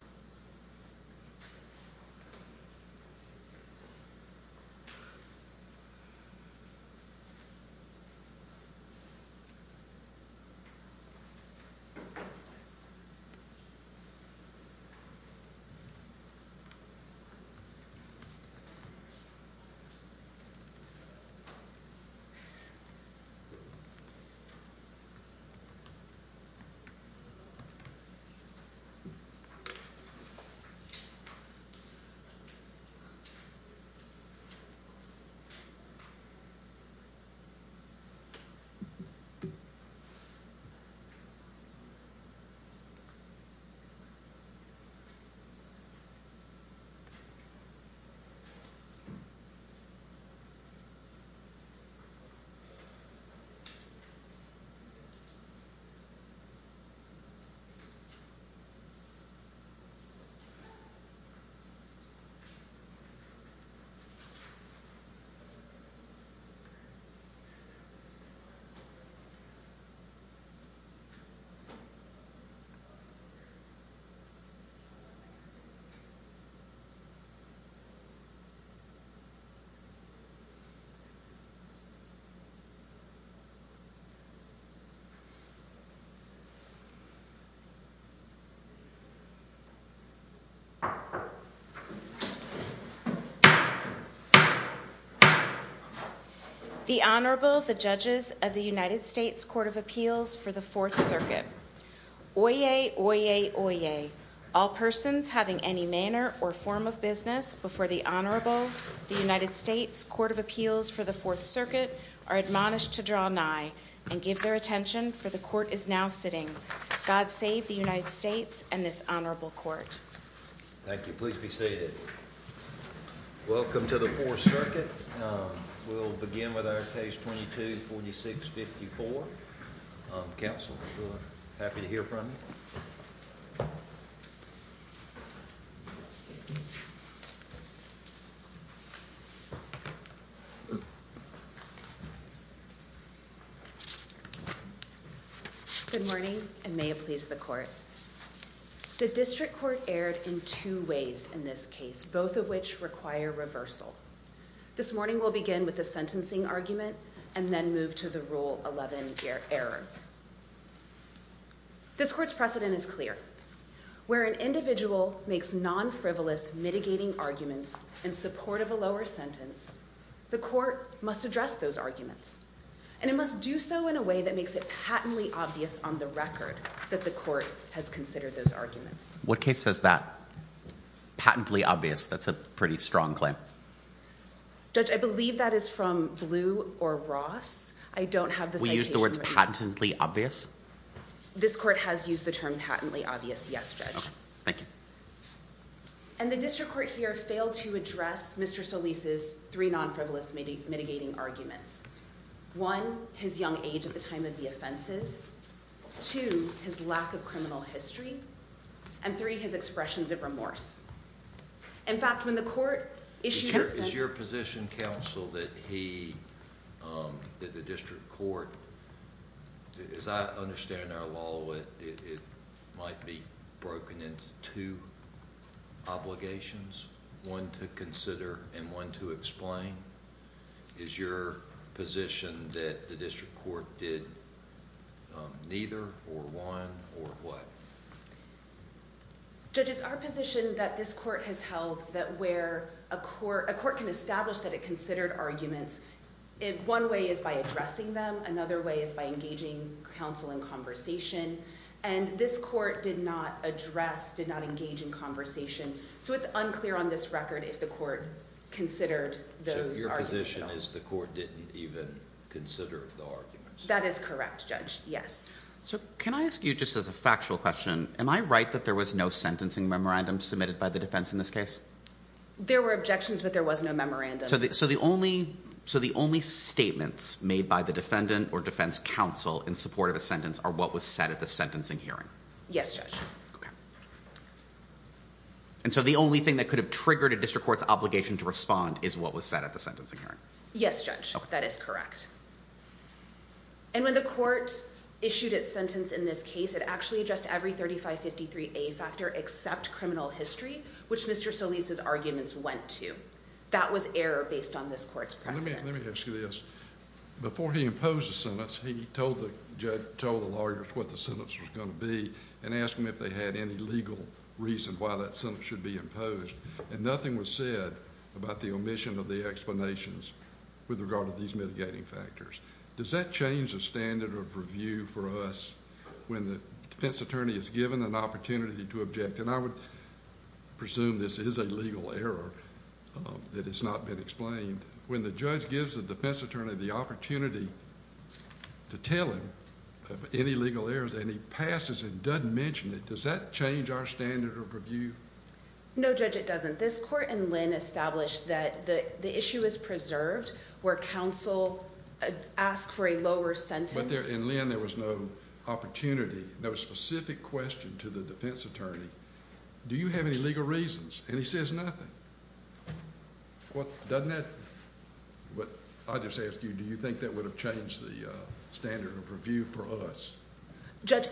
is a member of the Board of Governors of the United States of America. The Honorable, the Judges of the United States Court of Appeals for the Fourth Circuit. Oyez, oyez, oyez. All persons having any manner or form of business before the Honorable, the United States Court of Appeals for the Fourth Circuit are admonished to draw nigh and give their attention, for the Court is now sitting. God save the United States and this Honorable Court. Thank you. Please be seated. Welcome to the Fourth Circuit. We'll begin with our page 224654. Counsel, we're happy to hear from you. Good morning and may it please the Court. The District Court erred in two ways in this case, both of which require reversal. This morning we'll begin with the sentencing argument and then move to the Rule 11 error. This Court's precedent is clear. Where an individual makes non-frivolous mitigating arguments in support of a lower sentence, the Court must address those arguments. And it must do so in a way that makes it patently obvious on the record that the Court has considered those arguments. What case says that? Patently obvious, that's a pretty strong claim. Judge, I believe that is from Blue or Ross. We use the words patently obvious? This Court has used the term patently obvious, yes, Judge. Okay, thank you. And the District Court here failed to address Mr. Solis' three non-frivolous mitigating arguments. One, his young age at the time of the offenses. Two, his lack of criminal history. And three, his expressions of remorse. In fact, when the Court issued that sentence... Is your position, Counsel, that he, that the District Court, as I understand our law, it might be broken into two obligations? One to consider and one to explain? Is your position that the District Court did neither, or one, or what? Judge, it's our position that this Court has held that where a Court can establish that it considered arguments, one way is by addressing them, another way is by engaging Counsel in conversation. And this Court did not address, did not engage in conversation. So it's unclear on this record if the Court considered those arguments at all. So your position is the Court didn't even consider the arguments? That is correct, Judge, yes. So can I ask you, just as a factual question, am I right that there was no sentencing memorandum submitted by the defense in this case? There were objections, but there was no memorandum. So the only statements made by the defendant or defense counsel in support of a sentence are what was said at the sentencing hearing? Yes, Judge. And so the only thing that could have triggered a District Court's obligation to respond is what was said at the sentencing hearing? Yes, Judge, that is correct. And when the Court issued its sentence in this case, it actually addressed every 3553A factor except criminal history, which Mr. Solis' arguments went to. That was error based on this Court's precedent. Let me ask you this. Before he imposed the sentence, he told the lawyers what the sentence was going to be and asked them if they had any legal reason why that sentence should be imposed. And nothing was said about the omission of the explanations with regard to these mitigating factors. Does that change the standard of review for us when the defense attorney is given an opportunity to object? And I would presume this is a legal error that has not been explained. When the judge gives the defense attorney the opportunity to tell him of any legal errors and he passes and doesn't mention it, does that change our standard of review? No, Judge, it doesn't. This Court in Lynn established that the issue is preserved where counsel asks for a lower sentence. But in Lynn there was no opportunity, no specific question to the defense attorney. Do you have any legal reasons? And he says nothing. Doesn't that, I'll just ask you, do you think that would have changed the standard of review for us? Judge,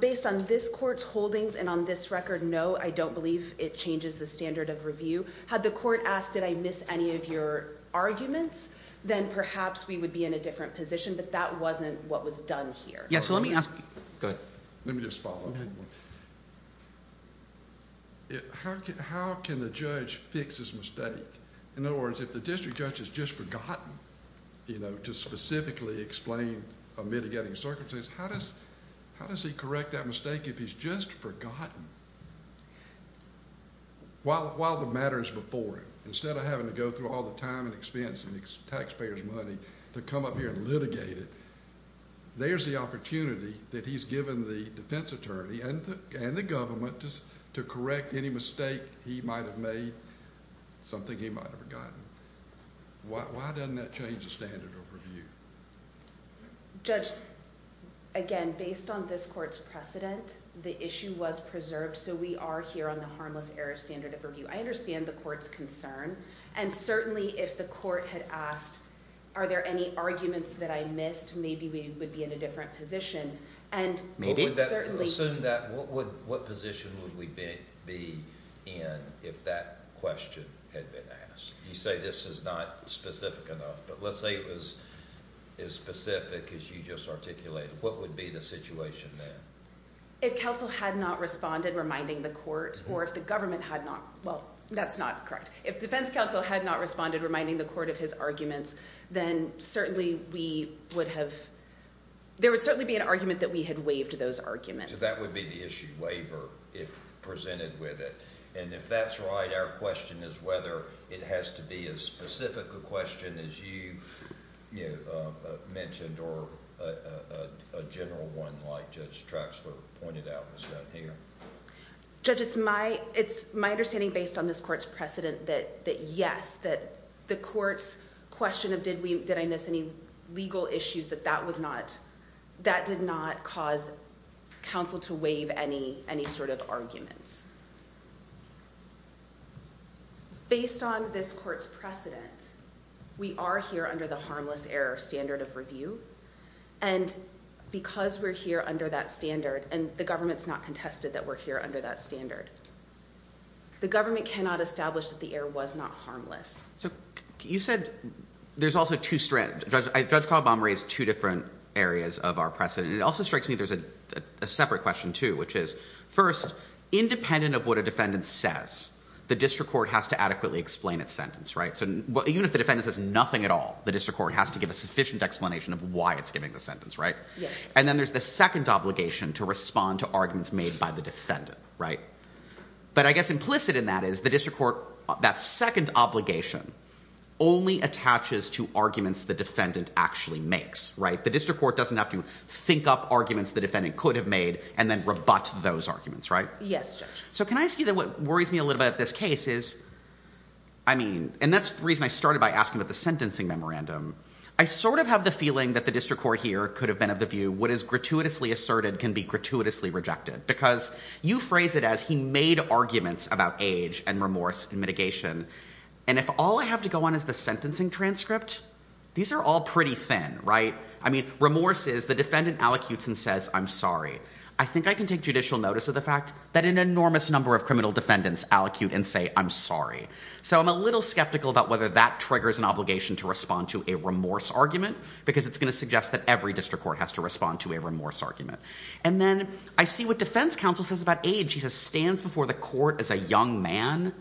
based on this Court's holdings and on this record, no, I don't believe it changes the standard of review. Had the Court asked did I miss any of your arguments, then perhaps we would be in a different position. But that wasn't what was done here. Yes, so let me ask you. Go ahead. Let me just follow up. How can the judge fix his mistake? In other words, if the district judge has just forgotten to specifically explain a mitigating circumstance, how does he correct that mistake if he's just forgotten while the matter is before him? Instead of having to go through all the time and expense and taxpayer's money to come up here and litigate it, there's the opportunity that he's given the defense attorney and the government to correct any mistake he might have made, something he might have forgotten. Why doesn't that change the standard of review? Judge, again, based on this Court's precedent, the issue was preserved, so we are here on the harmless error standard of review. I understand the Court's concern. And certainly if the Court had asked are there any arguments that I missed, maybe we would be in a different position. Assume that. What position would we be in if that question had been asked? You say this is not specific enough, but let's say it was as specific as you just articulated. What would be the situation then? If counsel had not responded, reminding the Court, or if the government had not, well, that's not correct. If defense counsel had not responded, reminding the Court of his arguments, then certainly we would have, there would certainly be an argument that we had waived those arguments. So that would be the issue, waiver, if presented with it. And if that's right, our question is whether it has to be as specific a question as you mentioned or a general one like Judge Traxler pointed out was done here. Judge, it's my understanding based on this Court's precedent that yes, that the Court's question of did I miss any legal issues, that that was not, that did not cause counsel to waive any sort of arguments. Based on this Court's precedent, we are here under the harmless error standard of review. And because we're here under that standard, and the government's not contested that we're here under that standard, the government cannot establish that the error was not harmless. So you said there's also two, Judge Caldwell raised two different areas of our precedent. It also strikes me there's a separate question too, which is first, independent of what a defendant says, the district court has to adequately explain its sentence, right? Even if the defendant says nothing at all, the district court has to give a sufficient explanation of why it's giving the sentence, right? And then there's the second obligation to respond to arguments made by the defendant, right? But I guess implicit in that is the district court, that second obligation, only attaches to arguments the defendant actually makes, right? The district court doesn't have to think up arguments the defendant could have made and then rebut those arguments, right? Yes, Judge. So can I ask you then what worries me a little bit about this case is, I mean, and that's the reason I started by asking about the sentencing memorandum. I sort of have the feeling that the district court here could have been of the view what is gratuitously asserted can be gratuitously rejected because you phrase it as he made arguments about age and remorse and mitigation. And if all I have to go on is the sentencing transcript, these are all pretty thin, right? I mean, remorse is the defendant allocutes and says, I'm sorry. I think I can take judicial notice of the fact that an enormous number of criminal defendants allocute and say, I'm sorry. So I'm a little skeptical about whether that triggers an obligation to respond to a remorse argument because it's going to suggest that every district court has to respond to a remorse argument. And then I see what defense counsel says about age. He says, stands before the court as a young man.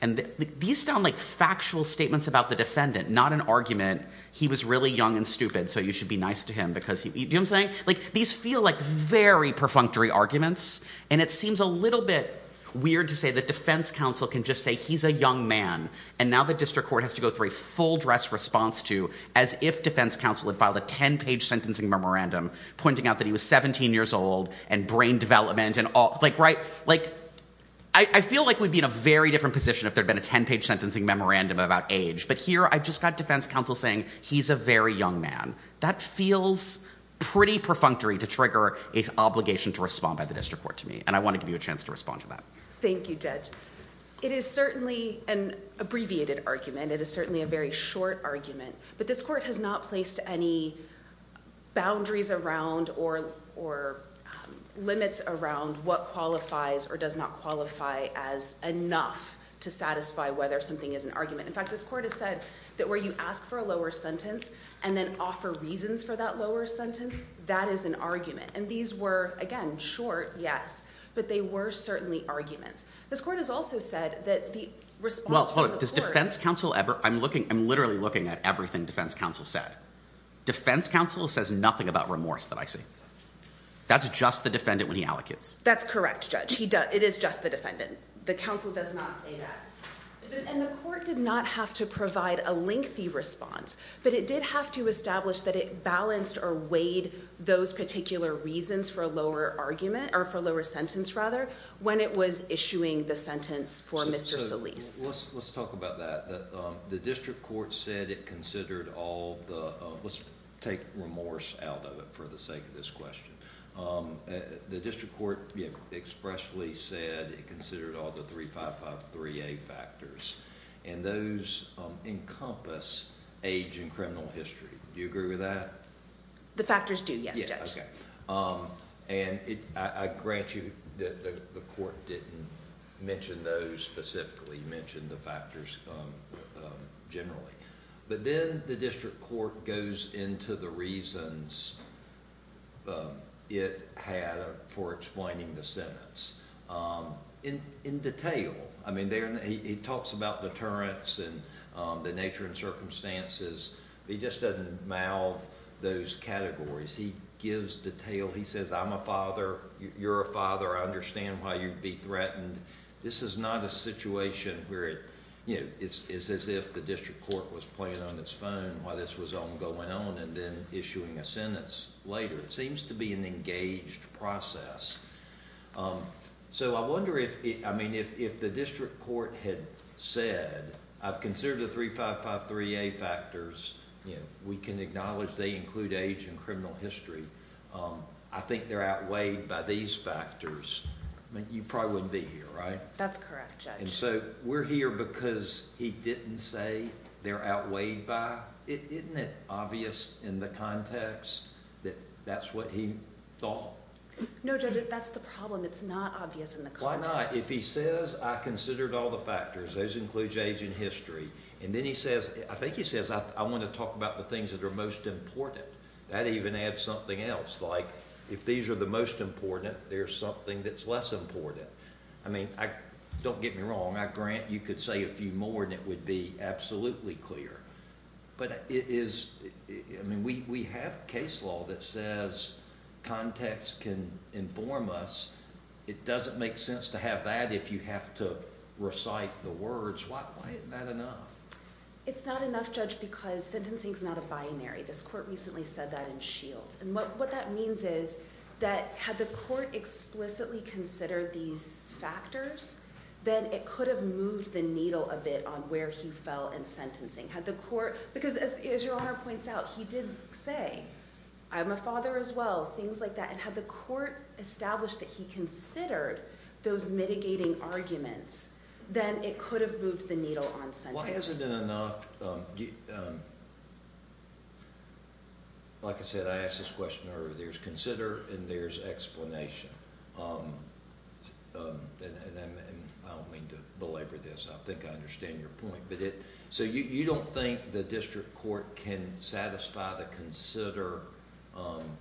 And these sound like factual statements about the defendant, not an argument. He was really young and stupid, so you should be nice to him because he – do you know what I'm saying? Like, these feel like very perfunctory arguments. And it seems a little bit weird to say that defense counsel can just say he's a young man and now the district court has to go through a full-dress response to as if defense counsel had filed a 10-page sentencing memorandum pointing out that he was 17 years old and brain development and all – like, right? Like, I feel like we'd be in a very different position if there had been a 10-page sentencing memorandum about age. But here I've just got defense counsel saying he's a very young man. That feels pretty perfunctory to trigger an obligation to respond by the district court to me, and I want to give you a chance to respond to that. Thank you, Judge. It is certainly an abbreviated argument. It is certainly a very short argument. But this court has not placed any boundaries around or limits around what qualifies or does not qualify as enough to satisfy whether something is an argument. In fact, this court has said that where you ask for a lower sentence and then offer reasons for that lower sentence, that is an argument. And these were, again, short, yes, but they were certainly arguments. This court has also said that the response from the court – Well, hold on. Does defense counsel ever – I'm looking – I'm literally looking at everything defense counsel said. Defense counsel says nothing about remorse that I see. That's just the defendant when he allocates. That's correct, Judge. It is just the defendant. The counsel does not say that. And the court did not have to provide a lengthy response, but it did have to establish that it balanced or weighed those particular reasons for a lower argument or for a lower sentence, rather, when it was issuing the sentence for Mr. Solis. Let's talk about that. The district court said it considered all the – let's take remorse out of it for the sake of this question. The district court expressly said it considered all the 3553A factors, and those encompass age and criminal history. Do you agree with that? The factors do, yes, Judge. And I grant you that the court didn't mention those specifically. It mentioned the factors generally. But then the district court goes into the reasons it had for explaining the sentence in detail. I mean, he talks about deterrence and the nature and circumstances, but he just doesn't mouth those categories. He gives detail. He says, I'm a father, you're a father, I understand why you'd be threatened. And this is not a situation where it's as if the district court was playing on its phone while this was all going on and then issuing a sentence later. It seems to be an engaged process. So I wonder if the district court had said, I've considered the 3553A factors. We can acknowledge they include age and criminal history. I think they're outweighed by these factors. I mean, you probably wouldn't be here, right? That's correct, Judge. And so we're here because he didn't say they're outweighed by? Isn't it obvious in the context that that's what he thought? No, Judge, that's the problem. It's not obvious in the context. Why not? If he says, I considered all the factors, those include age and history, and then he says, I think he says, I want to talk about the things that are most important, that even adds something else. Like if these are the most important, there's something that's less important. I mean, don't get me wrong. I grant you could say a few more and it would be absolutely clear. But it is, I mean, we have case law that says context can inform us. It doesn't make sense to have that if you have to recite the words. Why isn't that enough? It's not enough, Judge, because sentencing is not a binary. This court recently said that in Shields. And what that means is that had the court explicitly considered these factors, then it could have moved the needle a bit on where he fell in sentencing. Because as your Honor points out, he did say, I'm a father as well, things like that. And had the court established that he considered those mitigating arguments, then it could have moved the needle on sentencing. Why isn't it enough? Like I said, I asked this question earlier. There's consider and there's explanation. And I don't mean to belabor this. I think I understand your point. So you don't think the district court can satisfy the consider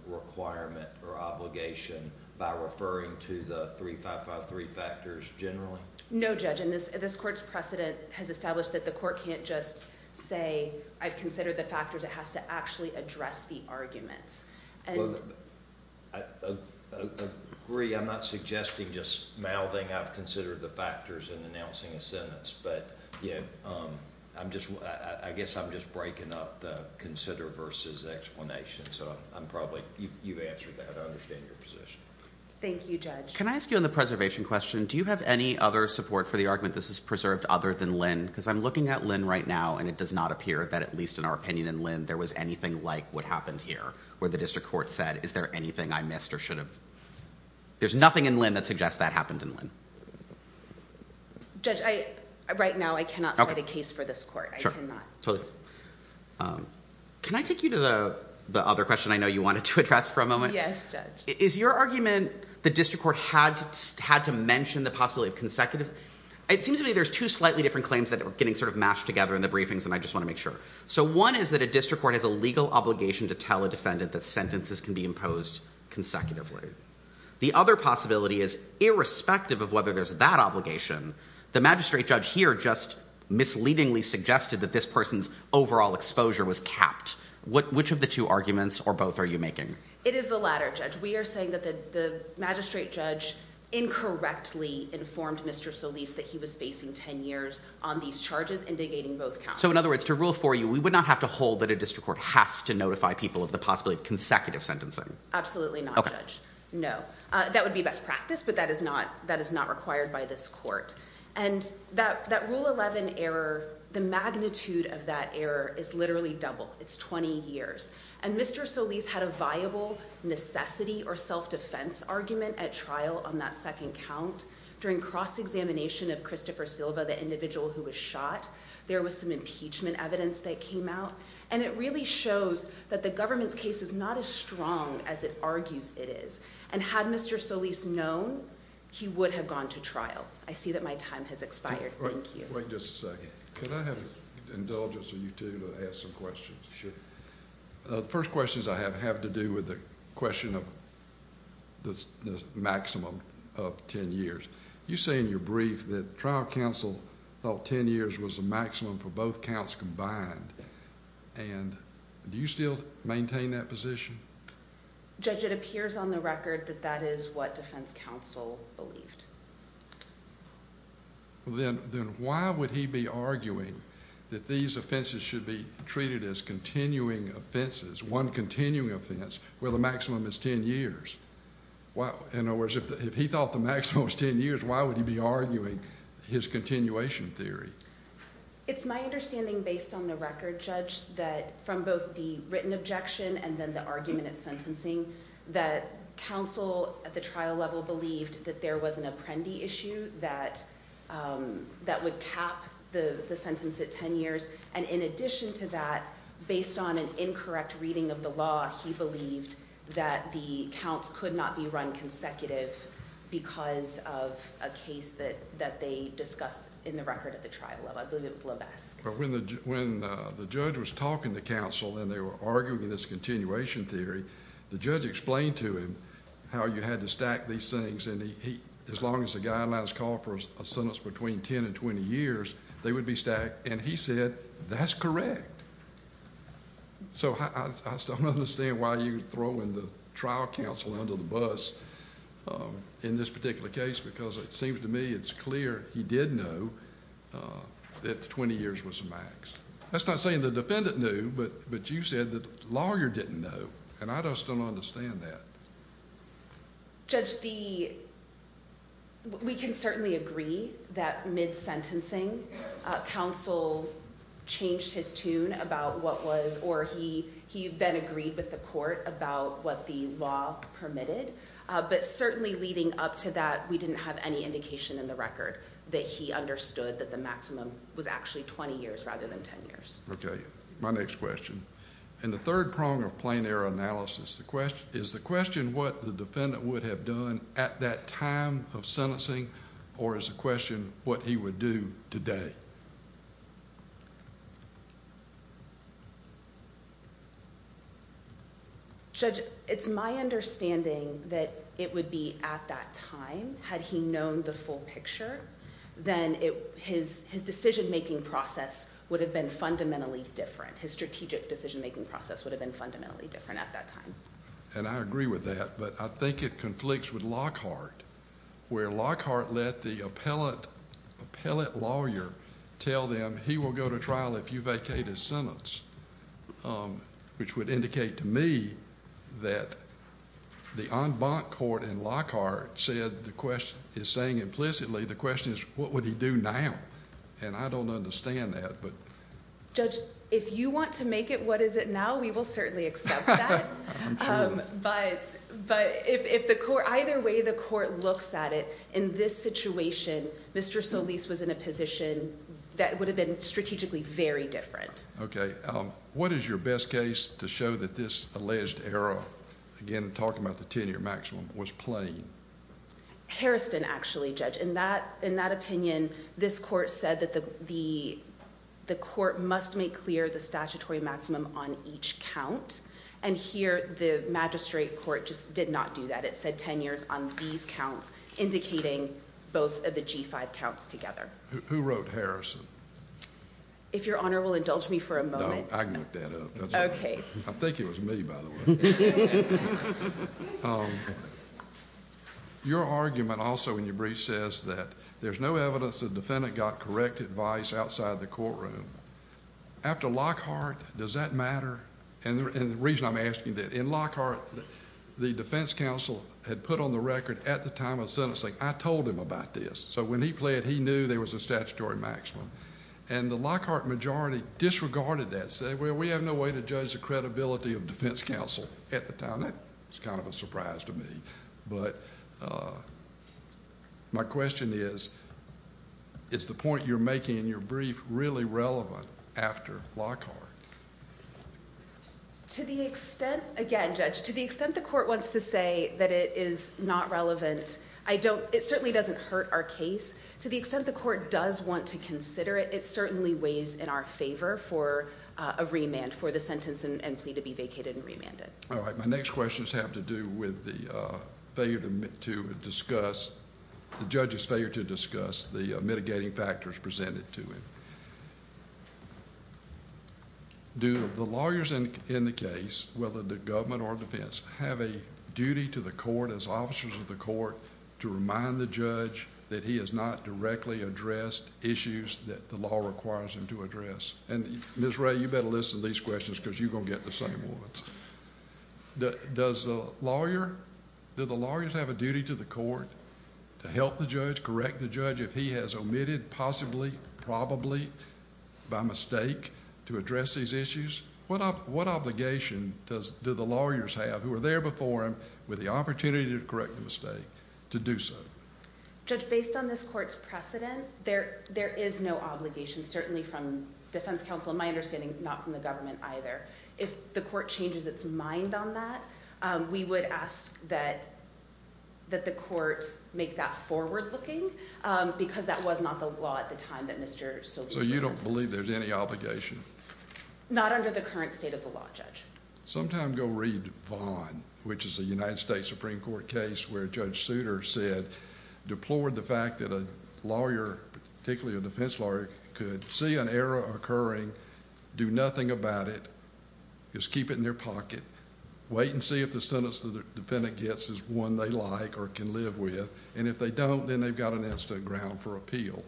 requirement or obligation by referring to the 3553 factors generally? No, Judge. And this court's precedent has established that the court can't just say, I've considered the factors. It has to actually address the arguments. Well, I agree. I'm not suggesting just mouthing I've considered the factors and announcing a sentence. But I guess I'm just breaking up the consider versus explanation. So you've answered that. I understand your position. Thank you, Judge. Can I ask you on the preservation question, do you have any other support for the argument this is preserved other than Lynn? Because I'm looking at Lynn right now, and it does not appear that at least in our opinion in Lynn there was anything like what happened here where the district court said, is there anything I missed or should have? There's nothing in Lynn that suggests that happened in Lynn. Judge, right now I cannot cite a case for this court. I cannot. Totally. Can I take you to the other question I know you wanted to address for a moment? Yes, Judge. Is your argument the district court had to mention the possibility of consecutive? It seems to me there's two slightly different claims that are getting sort of mashed together in the briefings, and I just want to make sure. So one is that a district court has a legal obligation to tell a defendant that sentences can be imposed consecutively. The other possibility is irrespective of whether there's that obligation, the magistrate judge here just misleadingly suggested that this person's overall exposure was capped. Which of the two arguments or both are you making? It is the latter, Judge. We are saying that the magistrate judge incorrectly informed Mr. Solis that he was facing 10 years on these charges, indicating both counts. So in other words, to rule for you, we would not have to hold that a district court has to notify people of the possibility of consecutive sentencing? Absolutely not, Judge. Okay. No. That would be best practice, but that is not required by this court. And that Rule 11 error, the magnitude of that error is literally double. It's 20 years. And Mr. Solis had a viable necessity or self-defense argument at trial on that second count. During cross-examination of Christopher Silva, the individual who was shot, there was some impeachment evidence that came out, and it really shows that the government's case is not as strong as it argues it is. And had Mr. Solis known, he would have gone to trial. I see that my time has expired. Thank you. Wait just a second. Can I have an indulgence of you two to ask some questions? Sure. The first question I have has to do with the question of the maximum of 10 years. You say in your brief that trial counsel thought 10 years was the maximum for both counts combined. And do you still maintain that position? Judge, it appears on the record that that is what defense counsel believed. Then why would he be arguing that these offenses should be treated as continuing offenses, one continuing offense, where the maximum is 10 years? In other words, if he thought the maximum was 10 years, why would he be arguing his continuation theory? It's my understanding, based on the record, Judge, that from both the written objection and then the argument of sentencing, that counsel at the trial level believed that there was an apprendee issue that would cap the sentence at 10 years. And in addition to that, based on an incorrect reading of the law, he believed that the counts could not be run consecutive because of a case that they discussed in the record at the trial level. I believe it was Lovesque. When the judge was talking to counsel and they were arguing this continuation theory, the judge explained to him how you had to stack these things, and as long as the guidelines call for a sentence between 10 and 20 years, they would be stacked. And he said, that's correct. So I still don't understand why you would throw in the trial counsel under the bus in this particular case, because it seems to me it's clear he did know that 20 years was the max. That's not saying the defendant knew, but you said the lawyer didn't know, and I just don't understand that. Judge, we can certainly agree that mid-sentencing, counsel changed his tune about what was, or he then agreed with the court about what the law permitted. But certainly leading up to that, we didn't have any indication in the record that he understood that the maximum was actually 20 years rather than 10 years. Okay. My next question. In the third prong of plain error analysis, is the question what the defendant would have done at that time of sentencing, or is the question what he would do today? Judge, it's my understanding that it would be at that time. Had he known the full picture, then his decision-making process would have been fundamentally different. His strategic decision-making process would have been fundamentally different at that time. And I agree with that, but I think it conflicts with Lockhart, where Lockhart let the appellate lawyer tell them, he will go to trial if you vacate his sentence, which would indicate to me that the en banc court in Lockhart is saying implicitly the question is, what would he do now? And I don't understand that. Judge, if you want to make it what is it now, we will certainly accept that. I'm sure. But either way the court looks at it, in this situation, Mr. Solis was in a position that would have been strategically very different. Okay. What is your best case to show that this alleged error, again, talking about the 10-year maximum, was plain? Harrison, actually, Judge. In that opinion, this court said that the court must make clear the statutory maximum on each count, and here the magistrate court just did not do that. It said 10 years on these counts, indicating both of the G-5 counts together. Who wrote Harrison? If Your Honor will indulge me for a moment. No, I can look that up. Okay. I think it was me, by the way. Your argument also in your brief says that there's no evidence the defendant got correct advice outside the courtroom. After Lockhart, does that matter? And the reason I'm asking that, in Lockhart, the defense counsel had put on the record at the time of sentencing, I told him about this. So when he pled, he knew there was a statutory maximum. And the Lockhart majority disregarded that, and I said, well, we have no way to judge the credibility of defense counsel at the time. That was kind of a surprise to me. But my question is, is the point you're making in your brief really relevant after Lockhart? To the extent, again, Judge, to the extent the court wants to say that it is not relevant, it certainly doesn't hurt our case. To the extent the court does want to consider it, it certainly weighs in our favor for a remand for the sentence and plead to be vacated and remanded. All right. My next question has to do with the failure to discuss, the judge's failure to discuss the mitigating factors presented to him. Do the lawyers in the case, whether the government or defense, have a duty to the court, as officers of the court, to remind the judge that he has not directly addressed issues that the law requires him to address? And Ms. Ray, you better listen to these questions because you're going to get the same ones. Does the lawyer, do the lawyers have a duty to the court to help the judge, correct the judge if he has omitted possibly, probably by mistake to address these issues? What obligation do the lawyers have, who are there before him with the opportunity to correct the mistake, to do so? Judge, based on this court's precedent, there is no obligation, certainly from defense counsel and my understanding, not from the government either. If the court changes its mind on that, we would ask that the court make that forward looking because that was not the law at the time that Mr. Solis was sentenced. So you don't believe there's any obligation? Not under the current state of the law, Judge. Sometime go read Vaughan, which is a United States Supreme Court case where Judge Souter said, deplored the fact that a lawyer, particularly a defense lawyer, could see an error occurring, do nothing about it, just keep it in their pocket, wait and see if the sentence the defendant gets is one they like or can live with, and if they don't then they've got an instant ground for appeal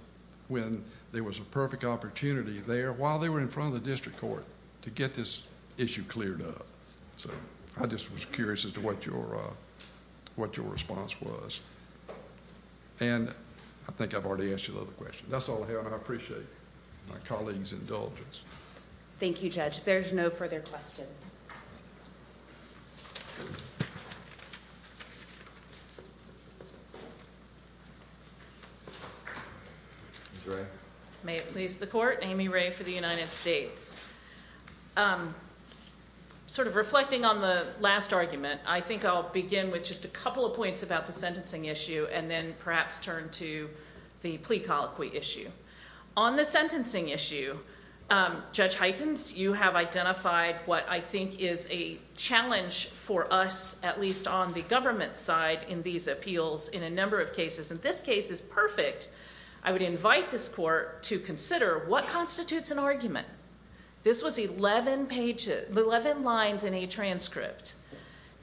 when there was a perfect opportunity there while they were in front of the district court to get this issue cleared up. So I just was curious as to what your response was. And I think I've already answered the other question. That's all I have. I appreciate my colleague's indulgence. Thank you, Judge. If there's no further questions. May it please the court. Amy Ray for the United States. Sort of reflecting on the last argument, I think I'll begin with just a couple of points about the sentencing issue and then perhaps turn to the plea colloquy issue. On the sentencing issue, Judge Hytens, you have identified what I think is a challenge for us, at least on the government side, in these appeals in a number of cases. And this case is perfect. I would invite this court to consider what constitutes an argument. This was 11 lines in a transcript.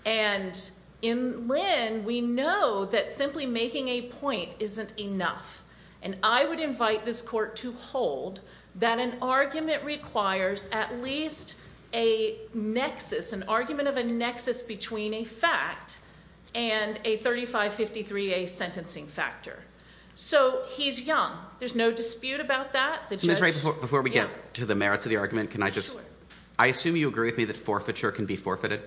And in Lynn, we know that simply making a point isn't enough. And I would invite this court to hold that an argument requires at least a nexus, an argument of a nexus between a fact and a 3553A sentencing factor. So he's young. There's no dispute about that. Before we get to the merits of the argument, can I just... I assume you agree with me that forfeiture can be forfeited?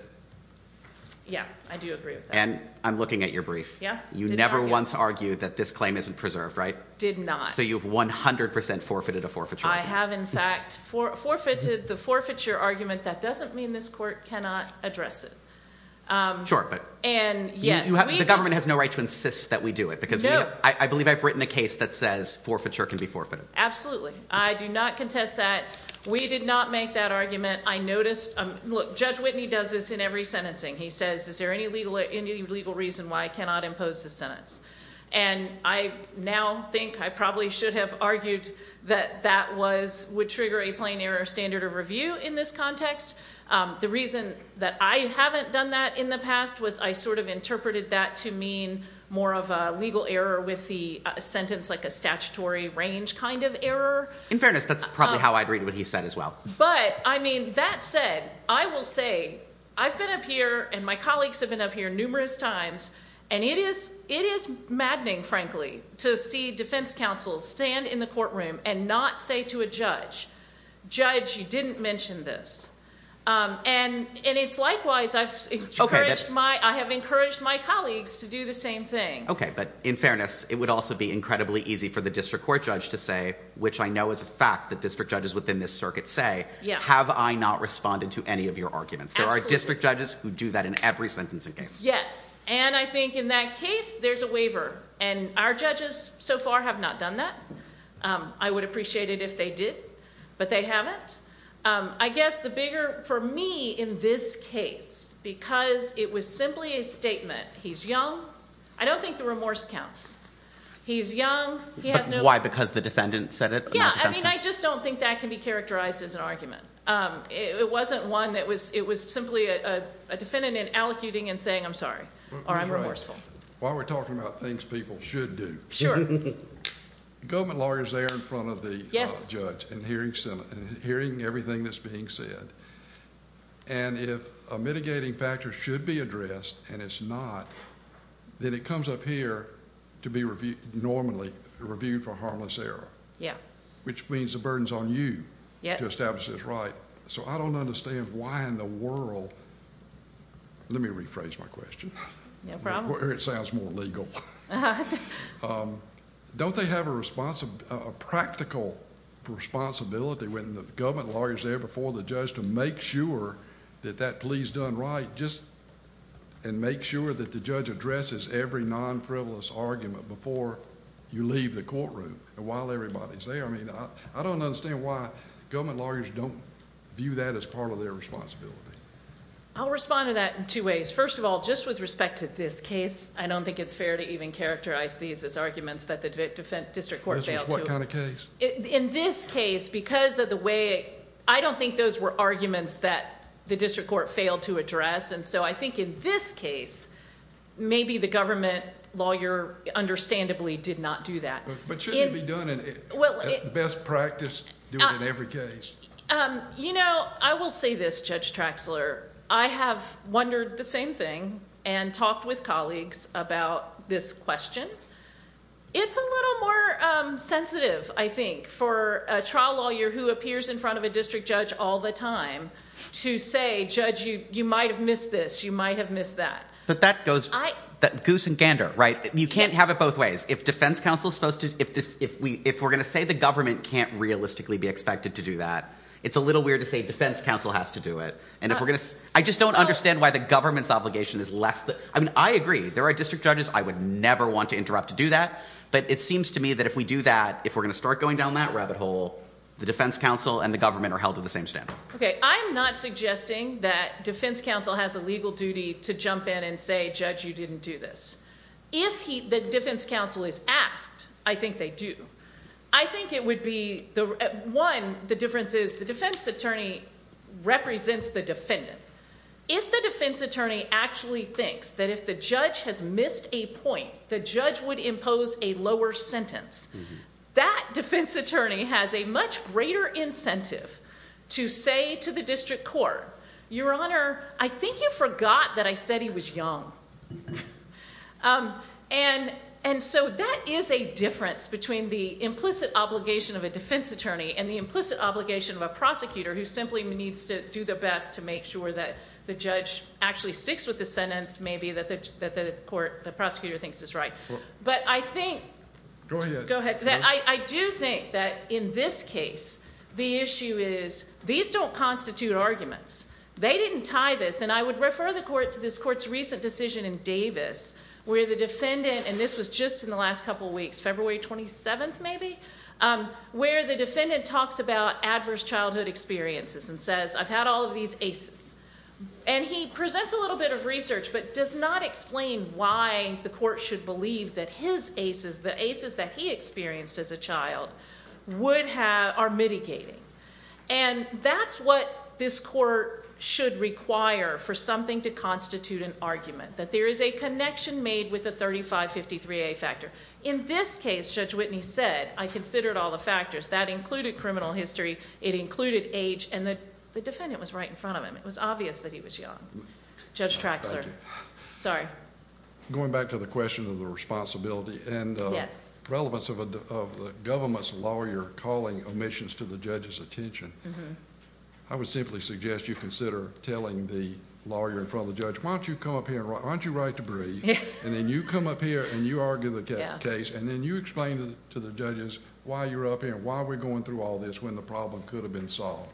Yeah, I do agree with that. And I'm looking at your brief. You never once argued that this claim isn't preserved, right? Did not. So you've 100% forfeited a forfeiture. I have, in fact, forfeited the forfeiture argument. That doesn't mean this court cannot address it. Sure, but the government has no right to insist that we do it because I believe I've written a case that says forfeiture can be forfeited. Absolutely. I do not contest that. We did not make that argument. Judge Whitney does this in every sentencing. He says, is there any legal reason why I cannot impose this sentence? And I now think I probably should have argued that that would trigger a plain error standard of review in this context. The reason that I haven't done that in the past was I sort of interpreted that to mean more of a legal error with the sentence like a statutory range kind of error. In fairness, that's probably how I'd read what he said as well. But, I mean, that said, I will say I've been up here and my colleagues have been up here numerous times and it is maddening, frankly, to see defense counsel stand in the courtroom and not say to a judge, judge, you didn't mention this. And it's likewise, I have encouraged my colleagues to do the same thing. Okay, but in fairness, it would also be incredibly easy for the district court judge to say, which I know is a fact that district judges within this circuit say, have I not responded to any of your arguments? Absolutely. There are district judges who do that in every sentencing case. Yes, and I think in that case, there's a waiver. And our judges so far have not done that. I would appreciate it if they did, but they haven't. I guess the bigger for me in this case, because it was simply a statement, he's young. I don't think the remorse counts. He's young. Why, because the defendant said it? Yeah, I just don't think that can be characterized as an argument. It wasn't one that was simply a defendant allocuting and saying I'm sorry or I'm remorseful. While we're talking about things people should do. Sure. Government lawyers are there in front of the judge and hearing everything that's being said. And if a mitigating factor should be addressed and it's not, then it comes up here to be normally reviewed for harmless error. Yeah. Which means the burden's on you to establish this right. So I don't understand why in the world, let me rephrase my question. No problem. Or it sounds more legal. Don't they have a practical responsibility when the government lawyer's there before the judge to make sure that that plea's done right and make sure that the judge addresses every non-frivolous argument before you leave the courtroom and while everybody's there? I don't understand why government lawyers don't view that as part of their responsibility. I'll respond to that in two ways. First of all, just with respect to this case, I don't think it's fair to even characterize these as arguments that the district court failed to. This is what kind of case? In this case, because of the way... I don't think those were arguments that the district court failed to address. So I think in this case, maybe the government lawyer understandably did not do that. But shouldn't it be done in the best practice, do it in every case? You know, I will say this, Judge Traxler. I have wondered the same thing and talked with colleagues about this question. It's a little more sensitive, I think, for a trial lawyer who appears in front of a district judge all the time to say, Judge, you might have missed this, you might have missed that. But that goes goose and gander, right? You can't have it both ways. If we're going to say the government can't realistically be expected to do that, it's a little weird to say defense counsel has to do it. I just don't understand why the government's obligation is less... I mean, I agree, there are district judges. I would never want to interrupt to do that. But it seems to me that if we do that, the defense counsel and the government are held to the same standard. Okay, I'm not suggesting that defense counsel has a legal duty to jump in and say, Judge, you didn't do this. If the defense counsel is asked, I think they do. I think it would be... One, the difference is the defense attorney represents the defendant. If the defense attorney actually thinks that if the judge has missed a point, the judge would impose a lower sentence, that defense attorney has a much greater incentive to say to the district court, Your Honor, I think you forgot that I said he was young. And so that is a difference between the implicit obligation of a defense attorney and the implicit obligation of a prosecutor who simply needs to do the best to make sure that the judge actually sticks with the sentence, maybe, that the prosecutor thinks is right. But I think... Go ahead. I do think that in this case, the issue is these don't constitute arguments. They didn't tie this. And I would refer the court to this court's recent decision in Davis where the defendant, and this was just in the last couple of weeks, February 27th maybe, where the defendant talks about adverse childhood experiences and says I've had all of these aces. And he presents a little bit of research but does not explain why the court should believe that his aces, the aces that he experienced as a child, are mitigating. And that's what this court should require for something to constitute an argument, that there is a connection made with the 3553A factor. In this case, Judge Whitney said, I considered all the factors. That included criminal history. It included age. And the defendant was right in front of him. It was obvious that he was young. Judge Traxler. Sorry. Going back to the question of the responsibility... Yes.... and relevance of the government's lawyer calling omissions to the judge's attention, I would simply suggest you consider telling the lawyer in front of the judge, why don't you come up here and why don't you write to brief, and then you come up here and you argue the case, and then you explain to the judges why you're up here and why we're going through all this when the problem could have been solved.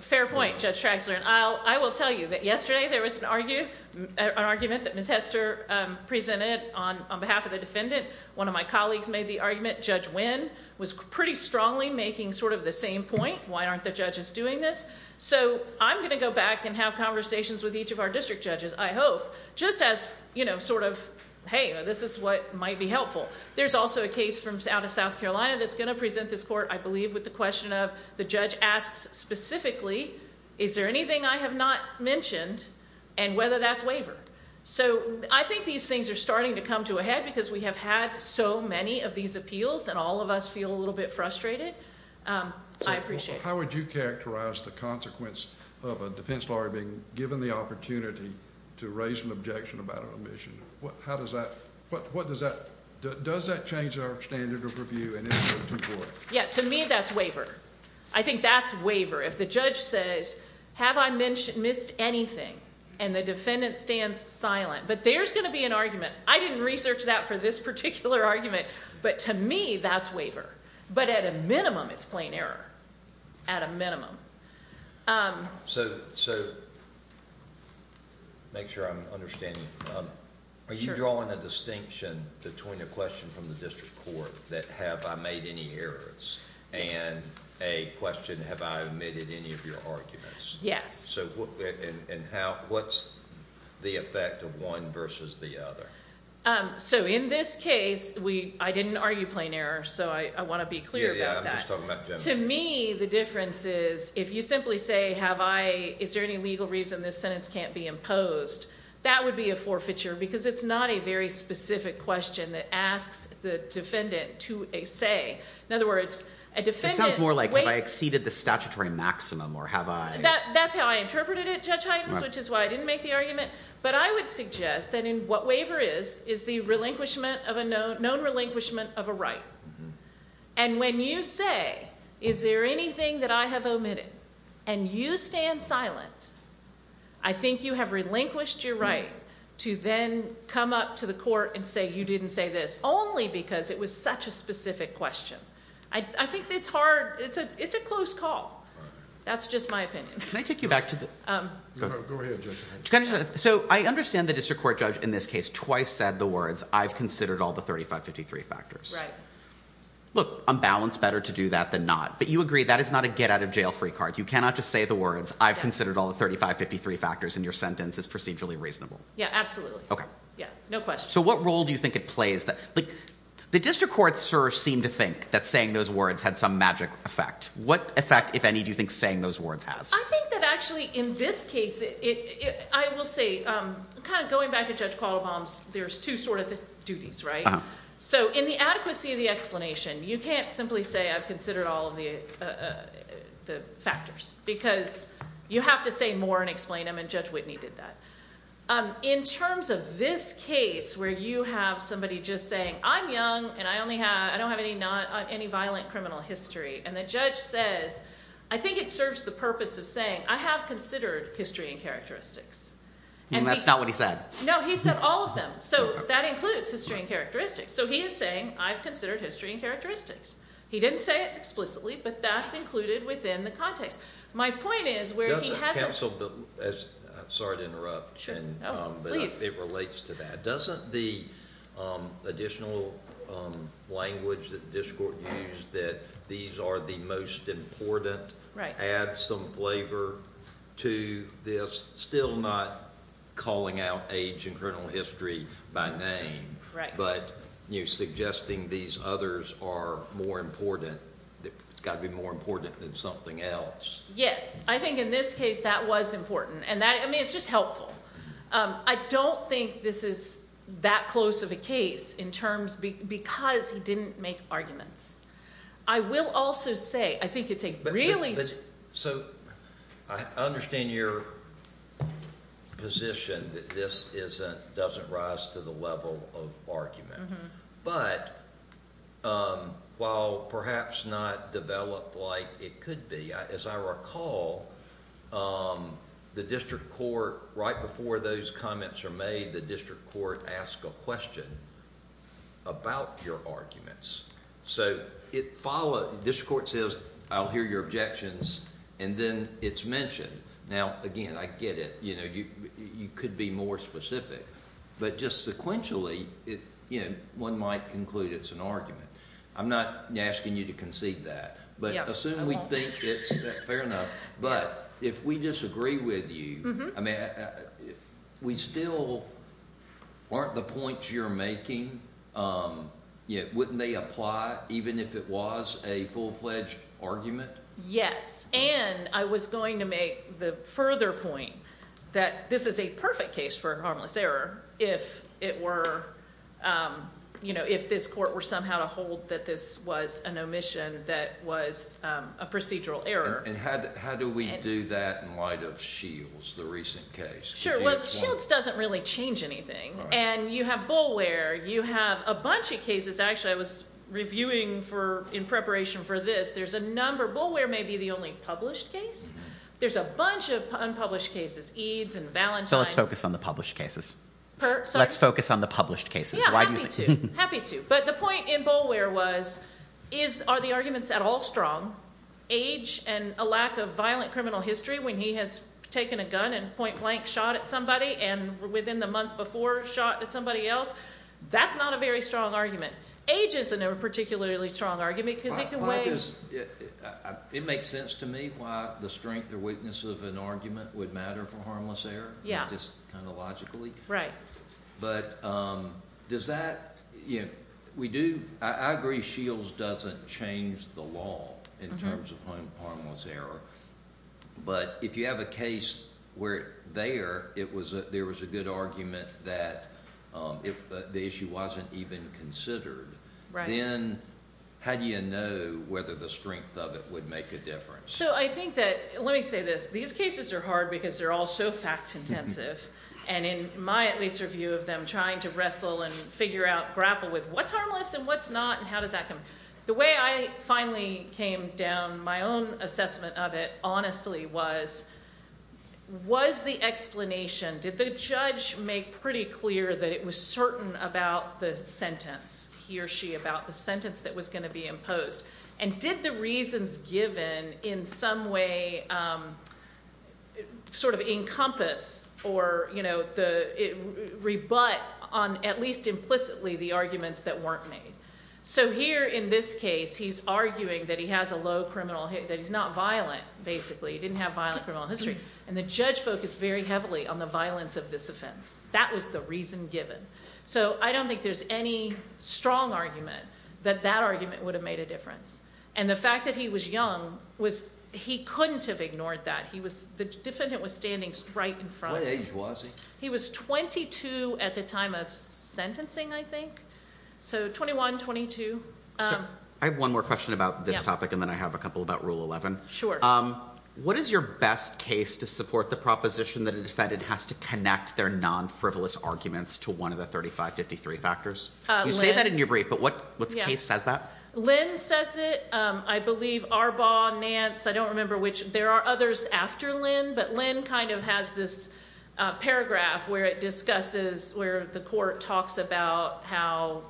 Fair point, Judge Traxler. I will tell you that yesterday there was an argument that Ms. Hester presented on behalf of the defendant. One of my colleagues made the argument. Judge Winn was pretty strongly making sort of the same point, why aren't the judges doing this? So I'm going to go back and have conversations with each of our district judges, I hope, just as sort of, hey, this is what might be helpful. There's also a case out of South Carolina that's going to present this court, I believe, with the question of the judge asks specifically, is there anything I have not mentioned and whether that's wavered. So I think these things are starting to come to a head because we have had so many of these appeals and all of us feel a little bit frustrated. I appreciate it. How would you characterize the consequence of a defense lawyer being given the opportunity to raise an objection about an omission? How does that, what does that, does that change our standard of review? Yeah, to me that's waver. I think that's waver. If the judge says, have I missed anything? And the defendant stands silent. But there's going to be an argument. I didn't research that for this particular argument, but to me that's waver. But at a minimum it's plain error. At a minimum. So, make sure I'm understanding. Are you drawing a distinction between a question from the district court that, have I made any errors, and a question, have I omitted any of your arguments? Yes. And what's the effect of one versus the other? So in this case, I didn't argue plain error, so I want to be clear about that. Yeah, yeah, I'm just talking about generally. To me, the difference is, if you simply say, have I, is there any legal reason this sentence can't be imposed? That would be a forfeiture, because it's not a very specific question that asks the defendant to a say. In other words, a defendant. It sounds more like, have I exceeded the statutory maximum, or have I. That's how I interpreted it, Judge Huygens, which is why I didn't make the argument. But I would suggest that in what waver is, is the relinquishment of a known, known relinquishment of a right. And when you say, is there anything that I have omitted, and you stand silent, I think you have relinquished your right to then come up to the court and say, you didn't say this, only because it was such a specific question. I think it's hard, it's a close call. That's just my opinion. Can I take you back to the... Go ahead, Judge Huygens. So I understand the district court judge in this case twice said the words, I've considered all the 3553 factors. Right. Look, I'm balanced better to do that than not. But you agree, that is not a get-out-of-jail-free card. You cannot just say the words, I've considered all the 3553 factors in your sentence as procedurally reasonable. Yeah, absolutely. Okay. Yeah, no question. So what role do you think it plays? The district court, sir, seemed to think that saying those words had some magic effect. What effect, if any, do you think saying those words has? I think that actually in this case, I will say, kind of going back to Judge Quattlebaum's, there's two sort of duties, right? So in the adequacy of the explanation, you can't simply say I've considered all of the factors, because you have to say more and explain them, and Judge Whitney did that. In terms of this case where you have somebody just saying, I'm young and I don't have any violent criminal history, and the judge says, I think it serves the purpose of saying, I have considered history and characteristics. And that's not what he said. No, he said all of them. So that includes history and characteristics. So he is saying, I've considered history and characteristics. He didn't say it explicitly, but that's included within the context. My point is where he has it. Counsel, I'm sorry to interrupt, but it relates to that. Doesn't the additional language that the district court used, that these are the most important, add some flavor to this, still not calling out age and criminal history by name, but suggesting these others are more important, it's got to be more important than something else. Yes. I think in this case that was important. I mean, it's just helpful. I don't think this is that close of a case because he didn't make arguments. I will also say, I think it's a really – So I understand your position that this doesn't rise to the level of argument. But while perhaps not developed like it could be, as I recall, the district court, right before those comments are made, the district court asks a question about your arguments. So it follows – the district court says, I'll hear your objections, and then it's mentioned. Now, again, I get it. You could be more specific. But just sequentially, one might conclude it's an argument. I'm not asking you to concede that. But assume we think it's – fair enough. But if we disagree with you, we still – aren't the points you're making – wouldn't they apply even if it was a full-fledged argument? And I was going to make the further point that this is a perfect case for harmless error if it were – if this court were somehow to hold that this was an omission that was a procedural error. And how do we do that in light of Shields, the recent case? Sure. Well, Shields doesn't really change anything. And you have Boulware. You have a bunch of cases. Actually, I was reviewing in preparation for this. There's a number. Boulware may be the only published case. There's a bunch of unpublished cases, Eads and Valentine. So let's focus on the published cases. Let's focus on the published cases. Yeah, happy to. Happy to. But the point in Boulware was, are the arguments at all strong? Age and a lack of violent criminal history when he has taken a gun and point-blank shot at somebody and within the month before shot at somebody else, that's not a very strong argument. Age isn't a particularly strong argument because it can weigh. It makes sense to me why the strength or weakness of an argument would matter for harmless error. Yeah. Just kind of logically. But does that – we do – I agree Shields doesn't change the law in terms of harmless error. But if you have a case where there was a good argument that the issue wasn't even considered, then how do you know whether the strength of it would make a difference? So I think that – let me say this. These cases are hard because they're all so fact-intensive. And in my at least review of them, trying to wrestle and figure out, grapple with what's harmless and what's not and how does that come – the way I finally came down my own assessment of it honestly was, was the explanation – did the judge make pretty clear that it was certain about the sentence, he or she about the sentence that was going to be imposed? And did the reasons given in some way sort of encompass or rebut on at least implicitly the arguments that weren't made? So here in this case he's arguing that he has a low criminal – that he's not violent basically. He didn't have violent criminal history. And the judge focused very heavily on the violence of this offense. That was the reason given. So I don't think there's any strong argument that that argument would have made a difference. And the fact that he was young was he couldn't have ignored that. He was – the defendant was standing right in front of him. What age was he? He was 22 at the time of sentencing I think. So 21, 22. I have one more question about this topic and then I have a couple about Rule 11. What is your best case to support the proposition that a defendant has to connect their non-frivolous arguments to one of the 3553 factors? You say that in your brief, but what case says that? Lynn says it. I believe Arbaugh, Nance, I don't remember which. There are others after Lynn, but Lynn kind of has this paragraph where it discusses – where the court talks about how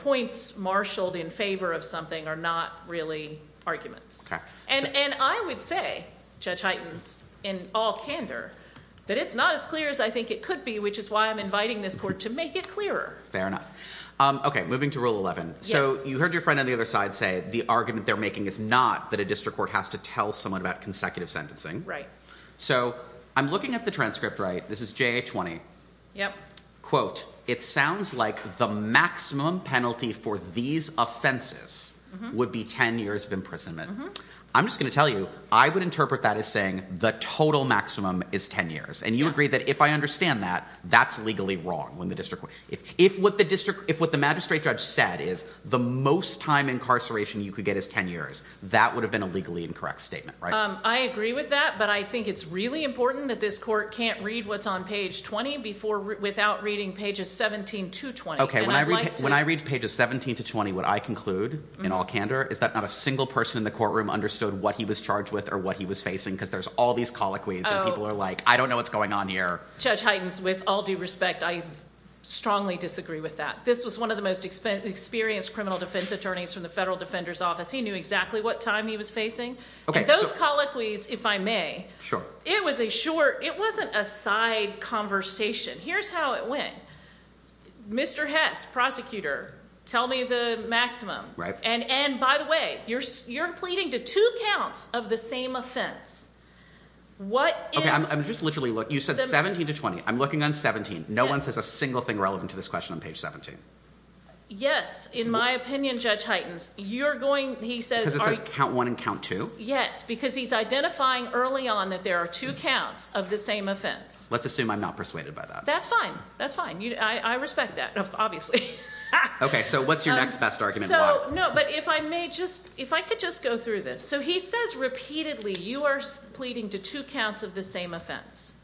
points marshaled in favor of something are not really arguments. And I would say, Judge Hyten, in all candor, that it's not as clear as I think it could be, which is why I'm inviting this court to make it clearer. Fair enough. Okay, moving to Rule 11. Yes. So you heard your friend on the other side say the argument they're making is not that a district court has to tell someone about consecutive sentencing. So I'm looking at the transcript, right? This is JA-20. Yep. Quote, it sounds like the maximum penalty for these offenses would be 10 years of imprisonment. I'm just going to tell you, I would interpret that as saying the total maximum is 10 years. And you agree that if I understand that, that's legally wrong. If what the magistrate judge said is the most time incarceration you could get is 10 years, that would have been a legally incorrect statement, right? I agree with that, but I think it's really important that this court can't read what's on page 20 without reading pages 17 to 20. Okay, when I read pages 17 to 20, what I conclude in all candor is that not a single person in the courtroom understood what he was charged with or what he was facing because there's all these colloquies and people are like, I don't know what's going on here. Judge Heitens, with all due respect, I strongly disagree with that. This was one of the most experienced criminal defense attorneys from the Federal Defender's Office. He knew exactly what time he was facing. And those colloquies, if I may, it was a short, it wasn't a side conversation. Here's how it went. Mr. Hess, prosecutor, tell me the maximum. And by the way, you're pleading to two counts of the same offense. Okay, I'm just literally, you said 17 to 20. I'm looking on 17. No one says a single thing relevant to this question on page 17. Yes, in my opinion, Judge Heitens, you're going, he says- Because it says count one and count two? Yes, because he's identifying early on that there are two counts of the same offense. Let's assume I'm not persuaded by that. That's fine. That's fine. I respect that, obviously. Okay, so what's your next best argument? No, but if I may just, if I could just go through this. So he says repeatedly you are pleading to two counts of the same offense.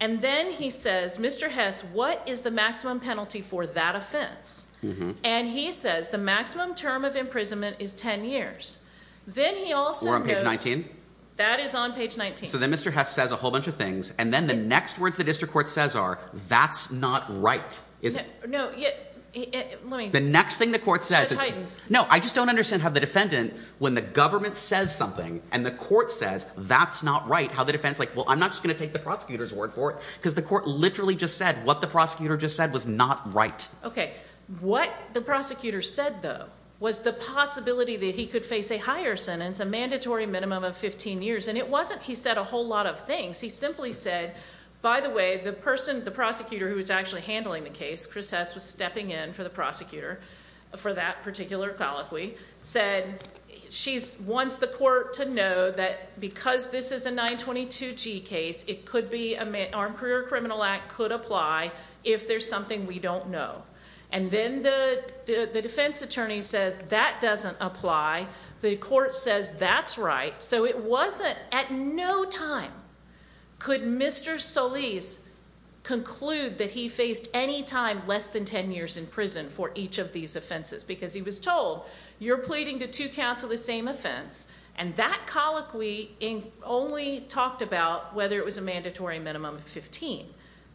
And then he says, Mr. Hess, what is the maximum penalty for that offense? And he says the maximum term of imprisonment is 10 years. Then he also notes- We're on page 19? That is on page 19. So then Mr. Hess says a whole bunch of things. And then the next words the district court says are, that's not right. No, let me- The next thing the court says is- Judge Heitens. No, I just don't understand how the defendant, when the government says something and the court says that's not right, how the defendant's like, well, I'm not just going to take the prosecutor's word for it. Because the court literally just said what the prosecutor just said was not right. Okay. What the prosecutor said, though, was the possibility that he could face a higher sentence, a mandatory minimum of 15 years. And it wasn't he said a whole lot of things. He simply said, by the way, the person, the prosecutor who was actually handling the case, Chris Hess was stepping in for the prosecutor for that particular colloquy, said she wants the court to know that because this is a 922G case, it could be an Armed Career Criminal Act could apply if there's something we don't know. And then the defense attorney says that doesn't apply. The court says that's right. So it wasn't at no time could Mr. Solis conclude that he faced any time less than 10 years in prison for each of these offenses because he was told you're pleading to two counsel the same offense, and that colloquy only talked about whether it was a mandatory minimum of 15,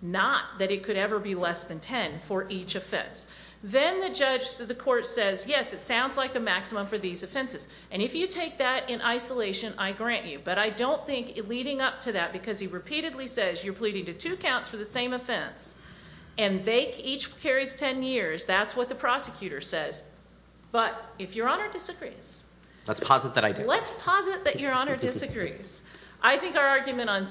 not that it could ever be less than 10 for each offense. Then the judge to the court says, yes, it sounds like the maximum for these offenses. And if you take that in isolation, I grant you. But I don't think leading up to that because he repeatedly says you're pleading to two counts for the same offense and each carries 10 years, that's what the prosecutor says. But if Your Honor disagrees. Let's posit that I do. Let's posit that Your Honor disagrees. I think our argument on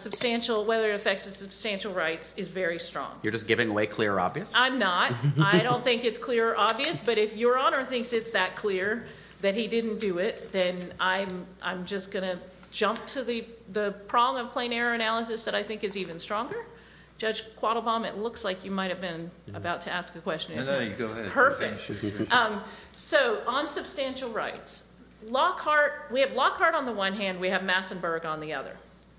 whether it affects the substantial rights is very strong. You're just giving away clear or obvious? I'm not. I don't think it's clear or obvious, but if Your Honor thinks it's that clear that he didn't do it, then I'm just going to jump to the prong of plain error analysis that I think is even stronger. Judge Quattlebaum, it looks like you might have been about to ask a question. No, no, you go ahead. Perfect. So on substantial rights, Lockhart, we have Lockhart on the one hand. We have Massenburg on the other.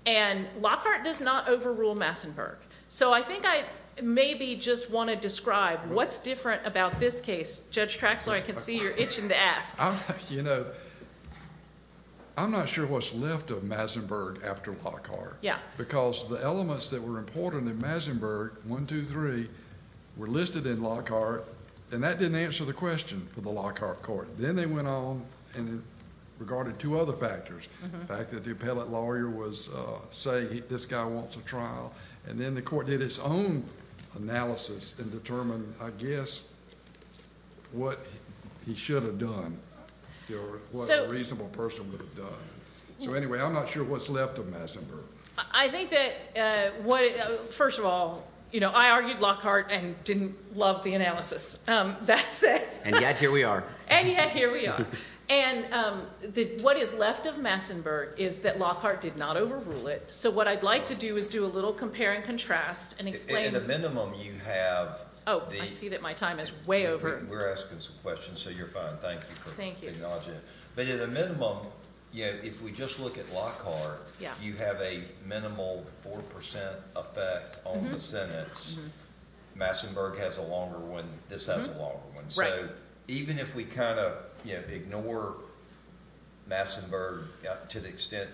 And Lockhart does not overrule Massenburg. So I think I maybe just want to describe what's different about this case. Judge Traxler, I can see you're itching to ask. You know, I'm not sure what's left of Massenburg after Lockhart. Yeah. Because the elements that were important in Massenburg, one, two, three, were listed in Lockhart, and that didn't answer the question for the Lockhart court. Then they went on and regarded two other factors. The fact that the appellate lawyer was saying this guy wants a trial, and then the court did its own analysis and determined, I guess, what he should have done or what a reasonable person would have done. So, anyway, I'm not sure what's left of Massenburg. I think that, first of all, you know, I argued Lockhart and didn't love the analysis. That said. And yet here we are. And yet here we are. And what is left of Massenburg is that Lockhart did not overrule it. So what I'd like to do is do a little compare and contrast and explain. At a minimum you have. Oh, I see that my time is way over. We're asking some questions, so you're fine. Thank you for acknowledging it. But at a minimum, if we just look at Lockhart, you have a minimal 4% effect on the sentence. Massenburg has a longer one. This has a longer one. Right. So even if we kind of, you know, ignore Massenburg to the extent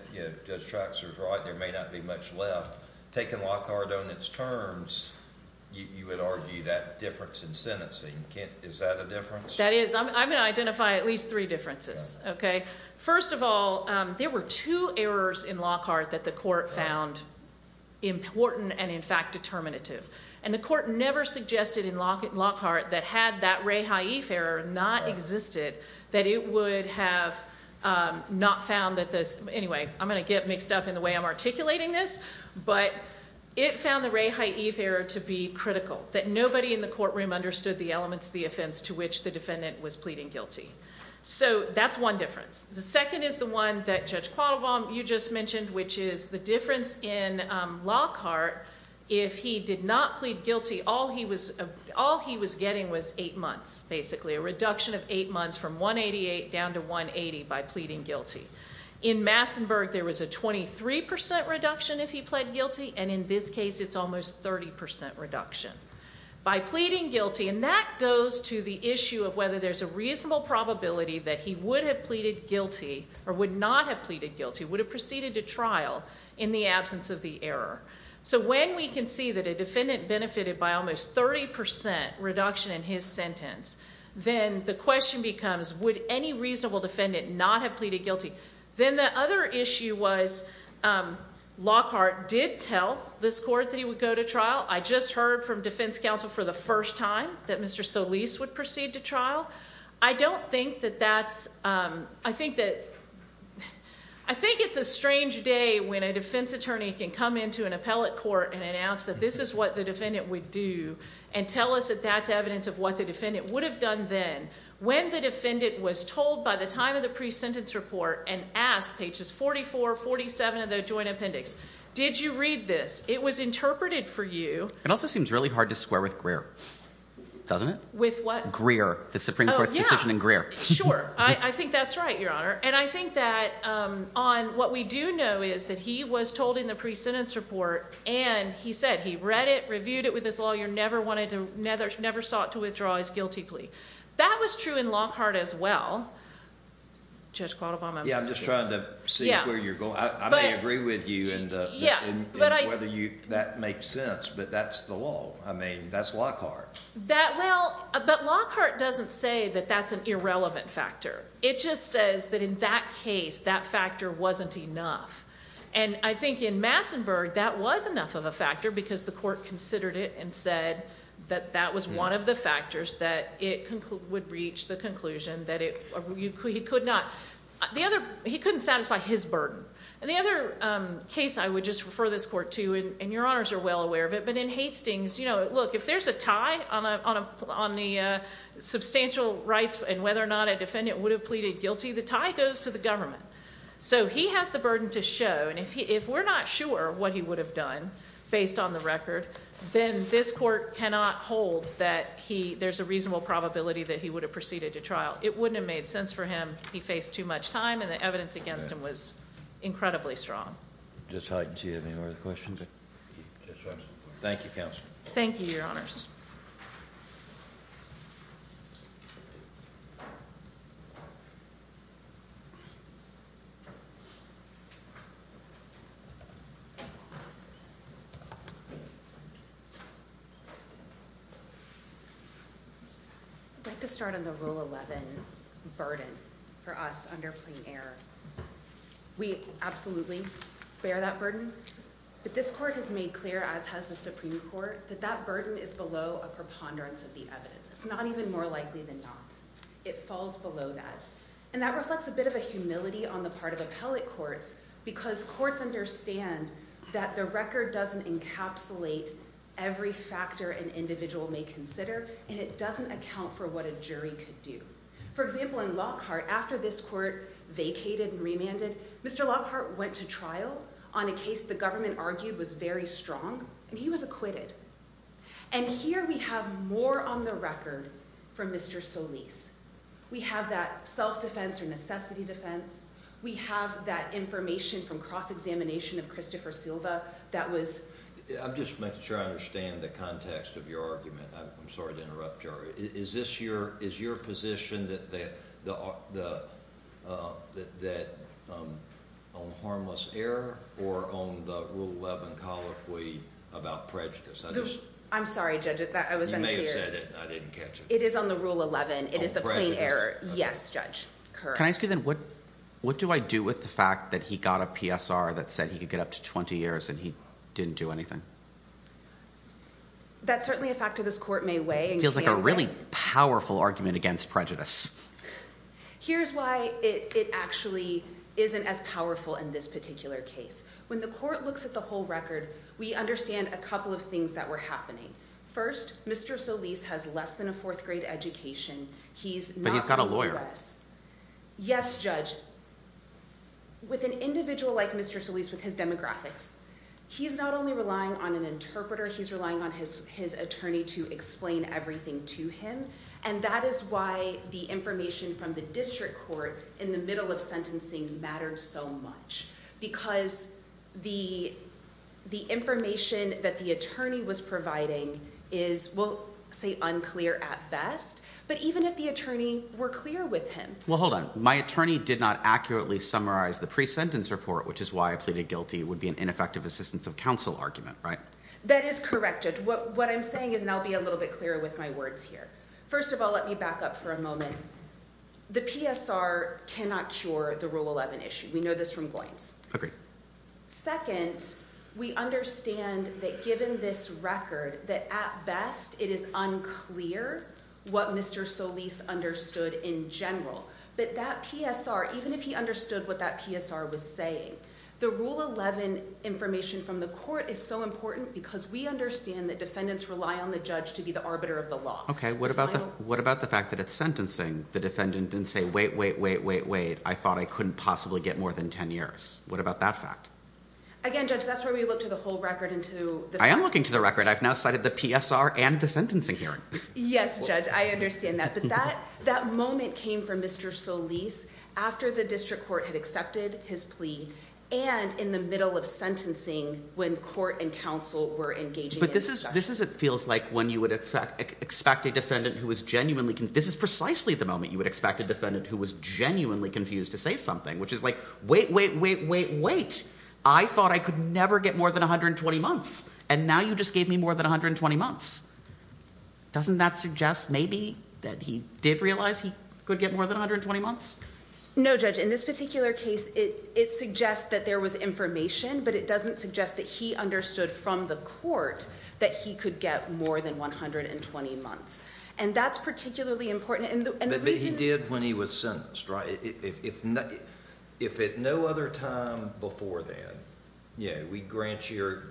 Judge Traxler is right, there may not be much left. Taking Lockhart on its terms, you would argue that difference in sentencing. Is that a difference? That is. I'm going to identify at least three differences. Okay. First of all, there were two errors in Lockhart that the court found important and, in fact, determinative. And the court never suggested in Lockhart that had that Rae Haif error not existed, that it would have not found that this. Anyway, I'm going to get mixed up in the way I'm articulating this. But it found the Rae Haif error to be critical. That nobody in the courtroom understood the elements of the offense to which the defendant was pleading guilty. So that's one difference. The second is the one that Judge Quattlebaum, you just mentioned, which is the difference in Lockhart. If he did not plead guilty, all he was getting was eight months, basically. A reduction of eight months from 188 down to 180 by pleading guilty. In Massenburg, there was a 23% reduction if he pled guilty. And in this case, it's almost 30% reduction. By pleading guilty, and that goes to the issue of whether there's a reasonable probability that he would have pleaded guilty or would not have pleaded guilty, would have proceeded to trial in the absence of the error. So when we can see that a defendant benefited by almost 30% reduction in his sentence, then the question becomes, would any reasonable defendant not have pleaded guilty? Then the other issue was Lockhart did tell this court that he would go to trial. I just heard from defense counsel for the first time that Mr. Solis would proceed to trial. I don't think that that's, I think that, I think it's a strange day when a defense attorney can come into an appellate court and announce that this is what the defendant would do and tell us that that's evidence of what the defendant would have done then. When the defendant was told by the time of the pre-sentence report and asked, pages 44, 47 of the joint appendix, did you read this? It was interpreted for you. It also seems really hard to swear with Greer, doesn't it? With what? Greer. The Supreme Court's decision in Greer. Sure. I think that's right, Your Honor. And I think that on what we do know is that he was told in the pre-sentence report, and he said he read it, reviewed it with his lawyer, never wanted to, never sought to withdraw his guilty plea. That was true in Lockhart as well. Judge Qualabong, I'm just curious. Yeah, I'm just trying to see where you're going. I may agree with you in whether that makes sense, but that's the law. I mean, that's Lockhart. Well, but Lockhart doesn't say that that's an irrelevant factor. It just says that in that case, that factor wasn't enough. And I think in Massenburg, that was enough of a factor because the court considered it and said that that was one of the factors that it would reach the conclusion that he could not. He couldn't satisfy his burden. And the other case I would just refer this court to, and Your Honors are well aware of it, but in Hastings, you know, look, if there's a tie on the substantial rights and whether or not a defendant would have pleaded guilty, the tie goes to the government. So he has the burden to show, and if we're not sure what he would have done based on the record, then this court cannot hold that there's a reasonable probability that he would have proceeded to trial. It wouldn't have made sense for him. He faced too much time, and the evidence against him was incredibly strong. Just hide until you have any more questions. Thank you, Counsel. Thank you, Your Honors. I'd like to start on the Rule 11 burden for us under plain error. We absolutely bear that burden, but this court has made clear, as has the Supreme Court, that that burden is below a preponderance of the evidence. It's not even more likely than not. It falls below that. And that reflects a bit of a humility on the part of appellate courts because courts understand that the record doesn't encapsulate every factor an individual may consider, and it doesn't account for what a jury could do. For example, in Lockhart, after this court vacated and remanded, Mr. Lockhart went to trial on a case the government argued was very strong, and he was acquitted. And here we have more on the record from Mr. Solis. We have that self-defense or necessity defense. We have that information from cross-examination of Christopher Silva that was— I'm just making sure I understand the context of your argument. I'm sorry to interrupt you. Is your position on harmless error or on the Rule 11 colloquy about prejudice? I'm sorry, Judge, I wasn't clear. You may have said it. I didn't catch it. It is on the Rule 11. It is the plain error. Yes, Judge. Can I ask you then what do I do with the fact that he got a PSR that said he could get up to 20 years and he didn't do anything? That's certainly a fact that this court may weigh. It feels like a really powerful argument against prejudice. Here's why it actually isn't as powerful in this particular case. When the court looks at the whole record, we understand a couple of things that were happening. First, Mr. Solis has less than a fourth-grade education. But he's got a lawyer. Yes, Judge. With an individual like Mr. Solis with his demographics, he's not only relying on an interpreter. He's relying on his attorney to explain everything to him. And that is why the information from the district court in the middle of sentencing mattered so much. Because the information that the attorney was providing is, we'll say, unclear at best. But even if the attorney were clear with him. Well, hold on. My attorney did not accurately summarize the pre-sentence report, which is why I pleaded guilty would be an ineffective assistance of counsel argument, right? That is correct, Judge. What I'm saying is, and I'll be a little bit clearer with my words here. First of all, let me back up for a moment. The PSR cannot cure the Rule 11 issue. We know this from Goins. Agreed. Second, we understand that given this record, that at best it is unclear what Mr. Solis understood in general. But that PSR, even if he understood what that PSR was saying, the Rule 11 information from the court is so important because we understand that defendants rely on the judge to be the arbiter of the law. Okay. What about the fact that at sentencing the defendant didn't say, wait, wait, wait, wait, wait. I thought I couldn't possibly get more than 10 years. What about that fact? Again, Judge, that's where we look to the whole record and to the facts. I am looking to the record. I've now cited the PSR and the sentencing hearing. Yes, Judge. I understand that. But that moment came for Mr. Solis after the district court had accepted his plea and in the middle of sentencing when court and counsel were engaging in discussion. But this is what it feels like when you would expect a defendant who was genuinely – this is precisely the moment you would expect a defendant who was genuinely confused to say something, which is like, wait, wait, wait, wait, wait. I thought I could never get more than 120 months, and now you just gave me more than 120 months. Doesn't that suggest maybe that he did realize he could get more than 120 months? No, Judge. In this particular case, it suggests that there was information, but it doesn't suggest that he understood from the court that he could get more than 120 months. And that's particularly important. But he did when he was sentenced, right? If at no other time before then we grant your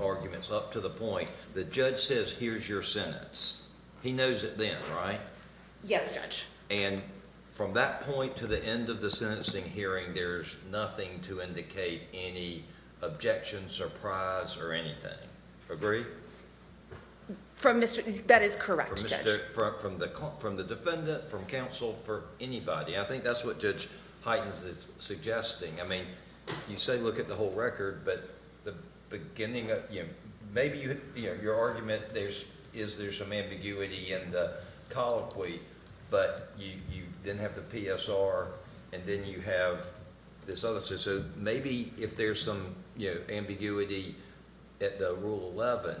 arguments up to the point the judge says here's your sentence, he knows it then, right? Yes, Judge. And from that point to the end of the sentencing hearing, there's nothing to indicate any objection, surprise, or anything. Agree? That is correct, Judge. From the defendant, from counsel, for anybody. I think that's what Judge Heitens is suggesting. I mean, you say look at the whole record, but maybe your argument is there's some ambiguity in the colloquy, but you then have the PSR, and then you have this other. So maybe if there's some ambiguity at the Rule 11,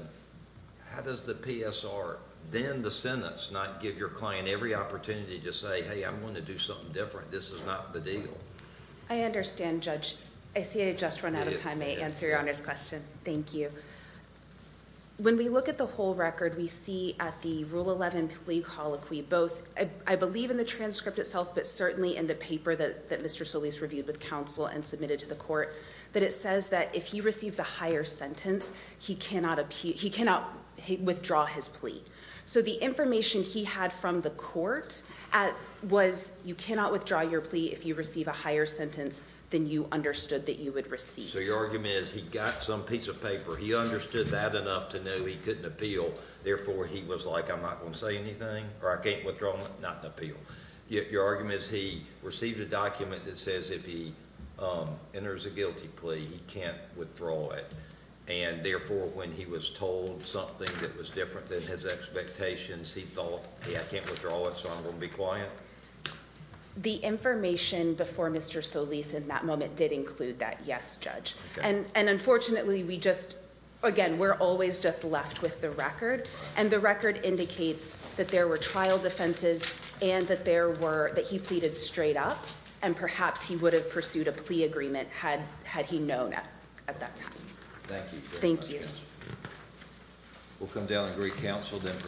how does the PSR then the sentence not give your client every opportunity to say hey, I'm going to do something different. This is not the deal. I understand, Judge. I see I just ran out of time. May I answer Your Honor's question? Thank you. When we look at the whole record, we see at the Rule 11 plea colloquy, both I believe in the transcript itself, but certainly in the paper that Mr. Solis reviewed with counsel and submitted to the court, that it says that if he receives a higher sentence, he cannot withdraw his plea. So the information he had from the court was you cannot withdraw your plea if you receive a higher sentence than you understood that you would receive. So your argument is he got some piece of paper, he understood that enough to know he couldn't appeal, therefore he was like I'm not going to say anything, or I can't withdraw it, not an appeal. Your argument is he received a document that says if he enters a guilty plea, he can't withdraw it, and therefore when he was told something that was different than his expectations, he thought I can't withdraw it, so I'm going to be quiet? The information before Mr. Solis in that moment did include that, yes, Judge. And unfortunately we just, again, we're always just left with the record, and the record indicates that there were trial defenses and that there were, that he pleaded straight up, and perhaps he would have pursued a plea agreement had he known at that time. Thank you very much. Thank you. We'll come down and agree counsel, then proceed to our next case.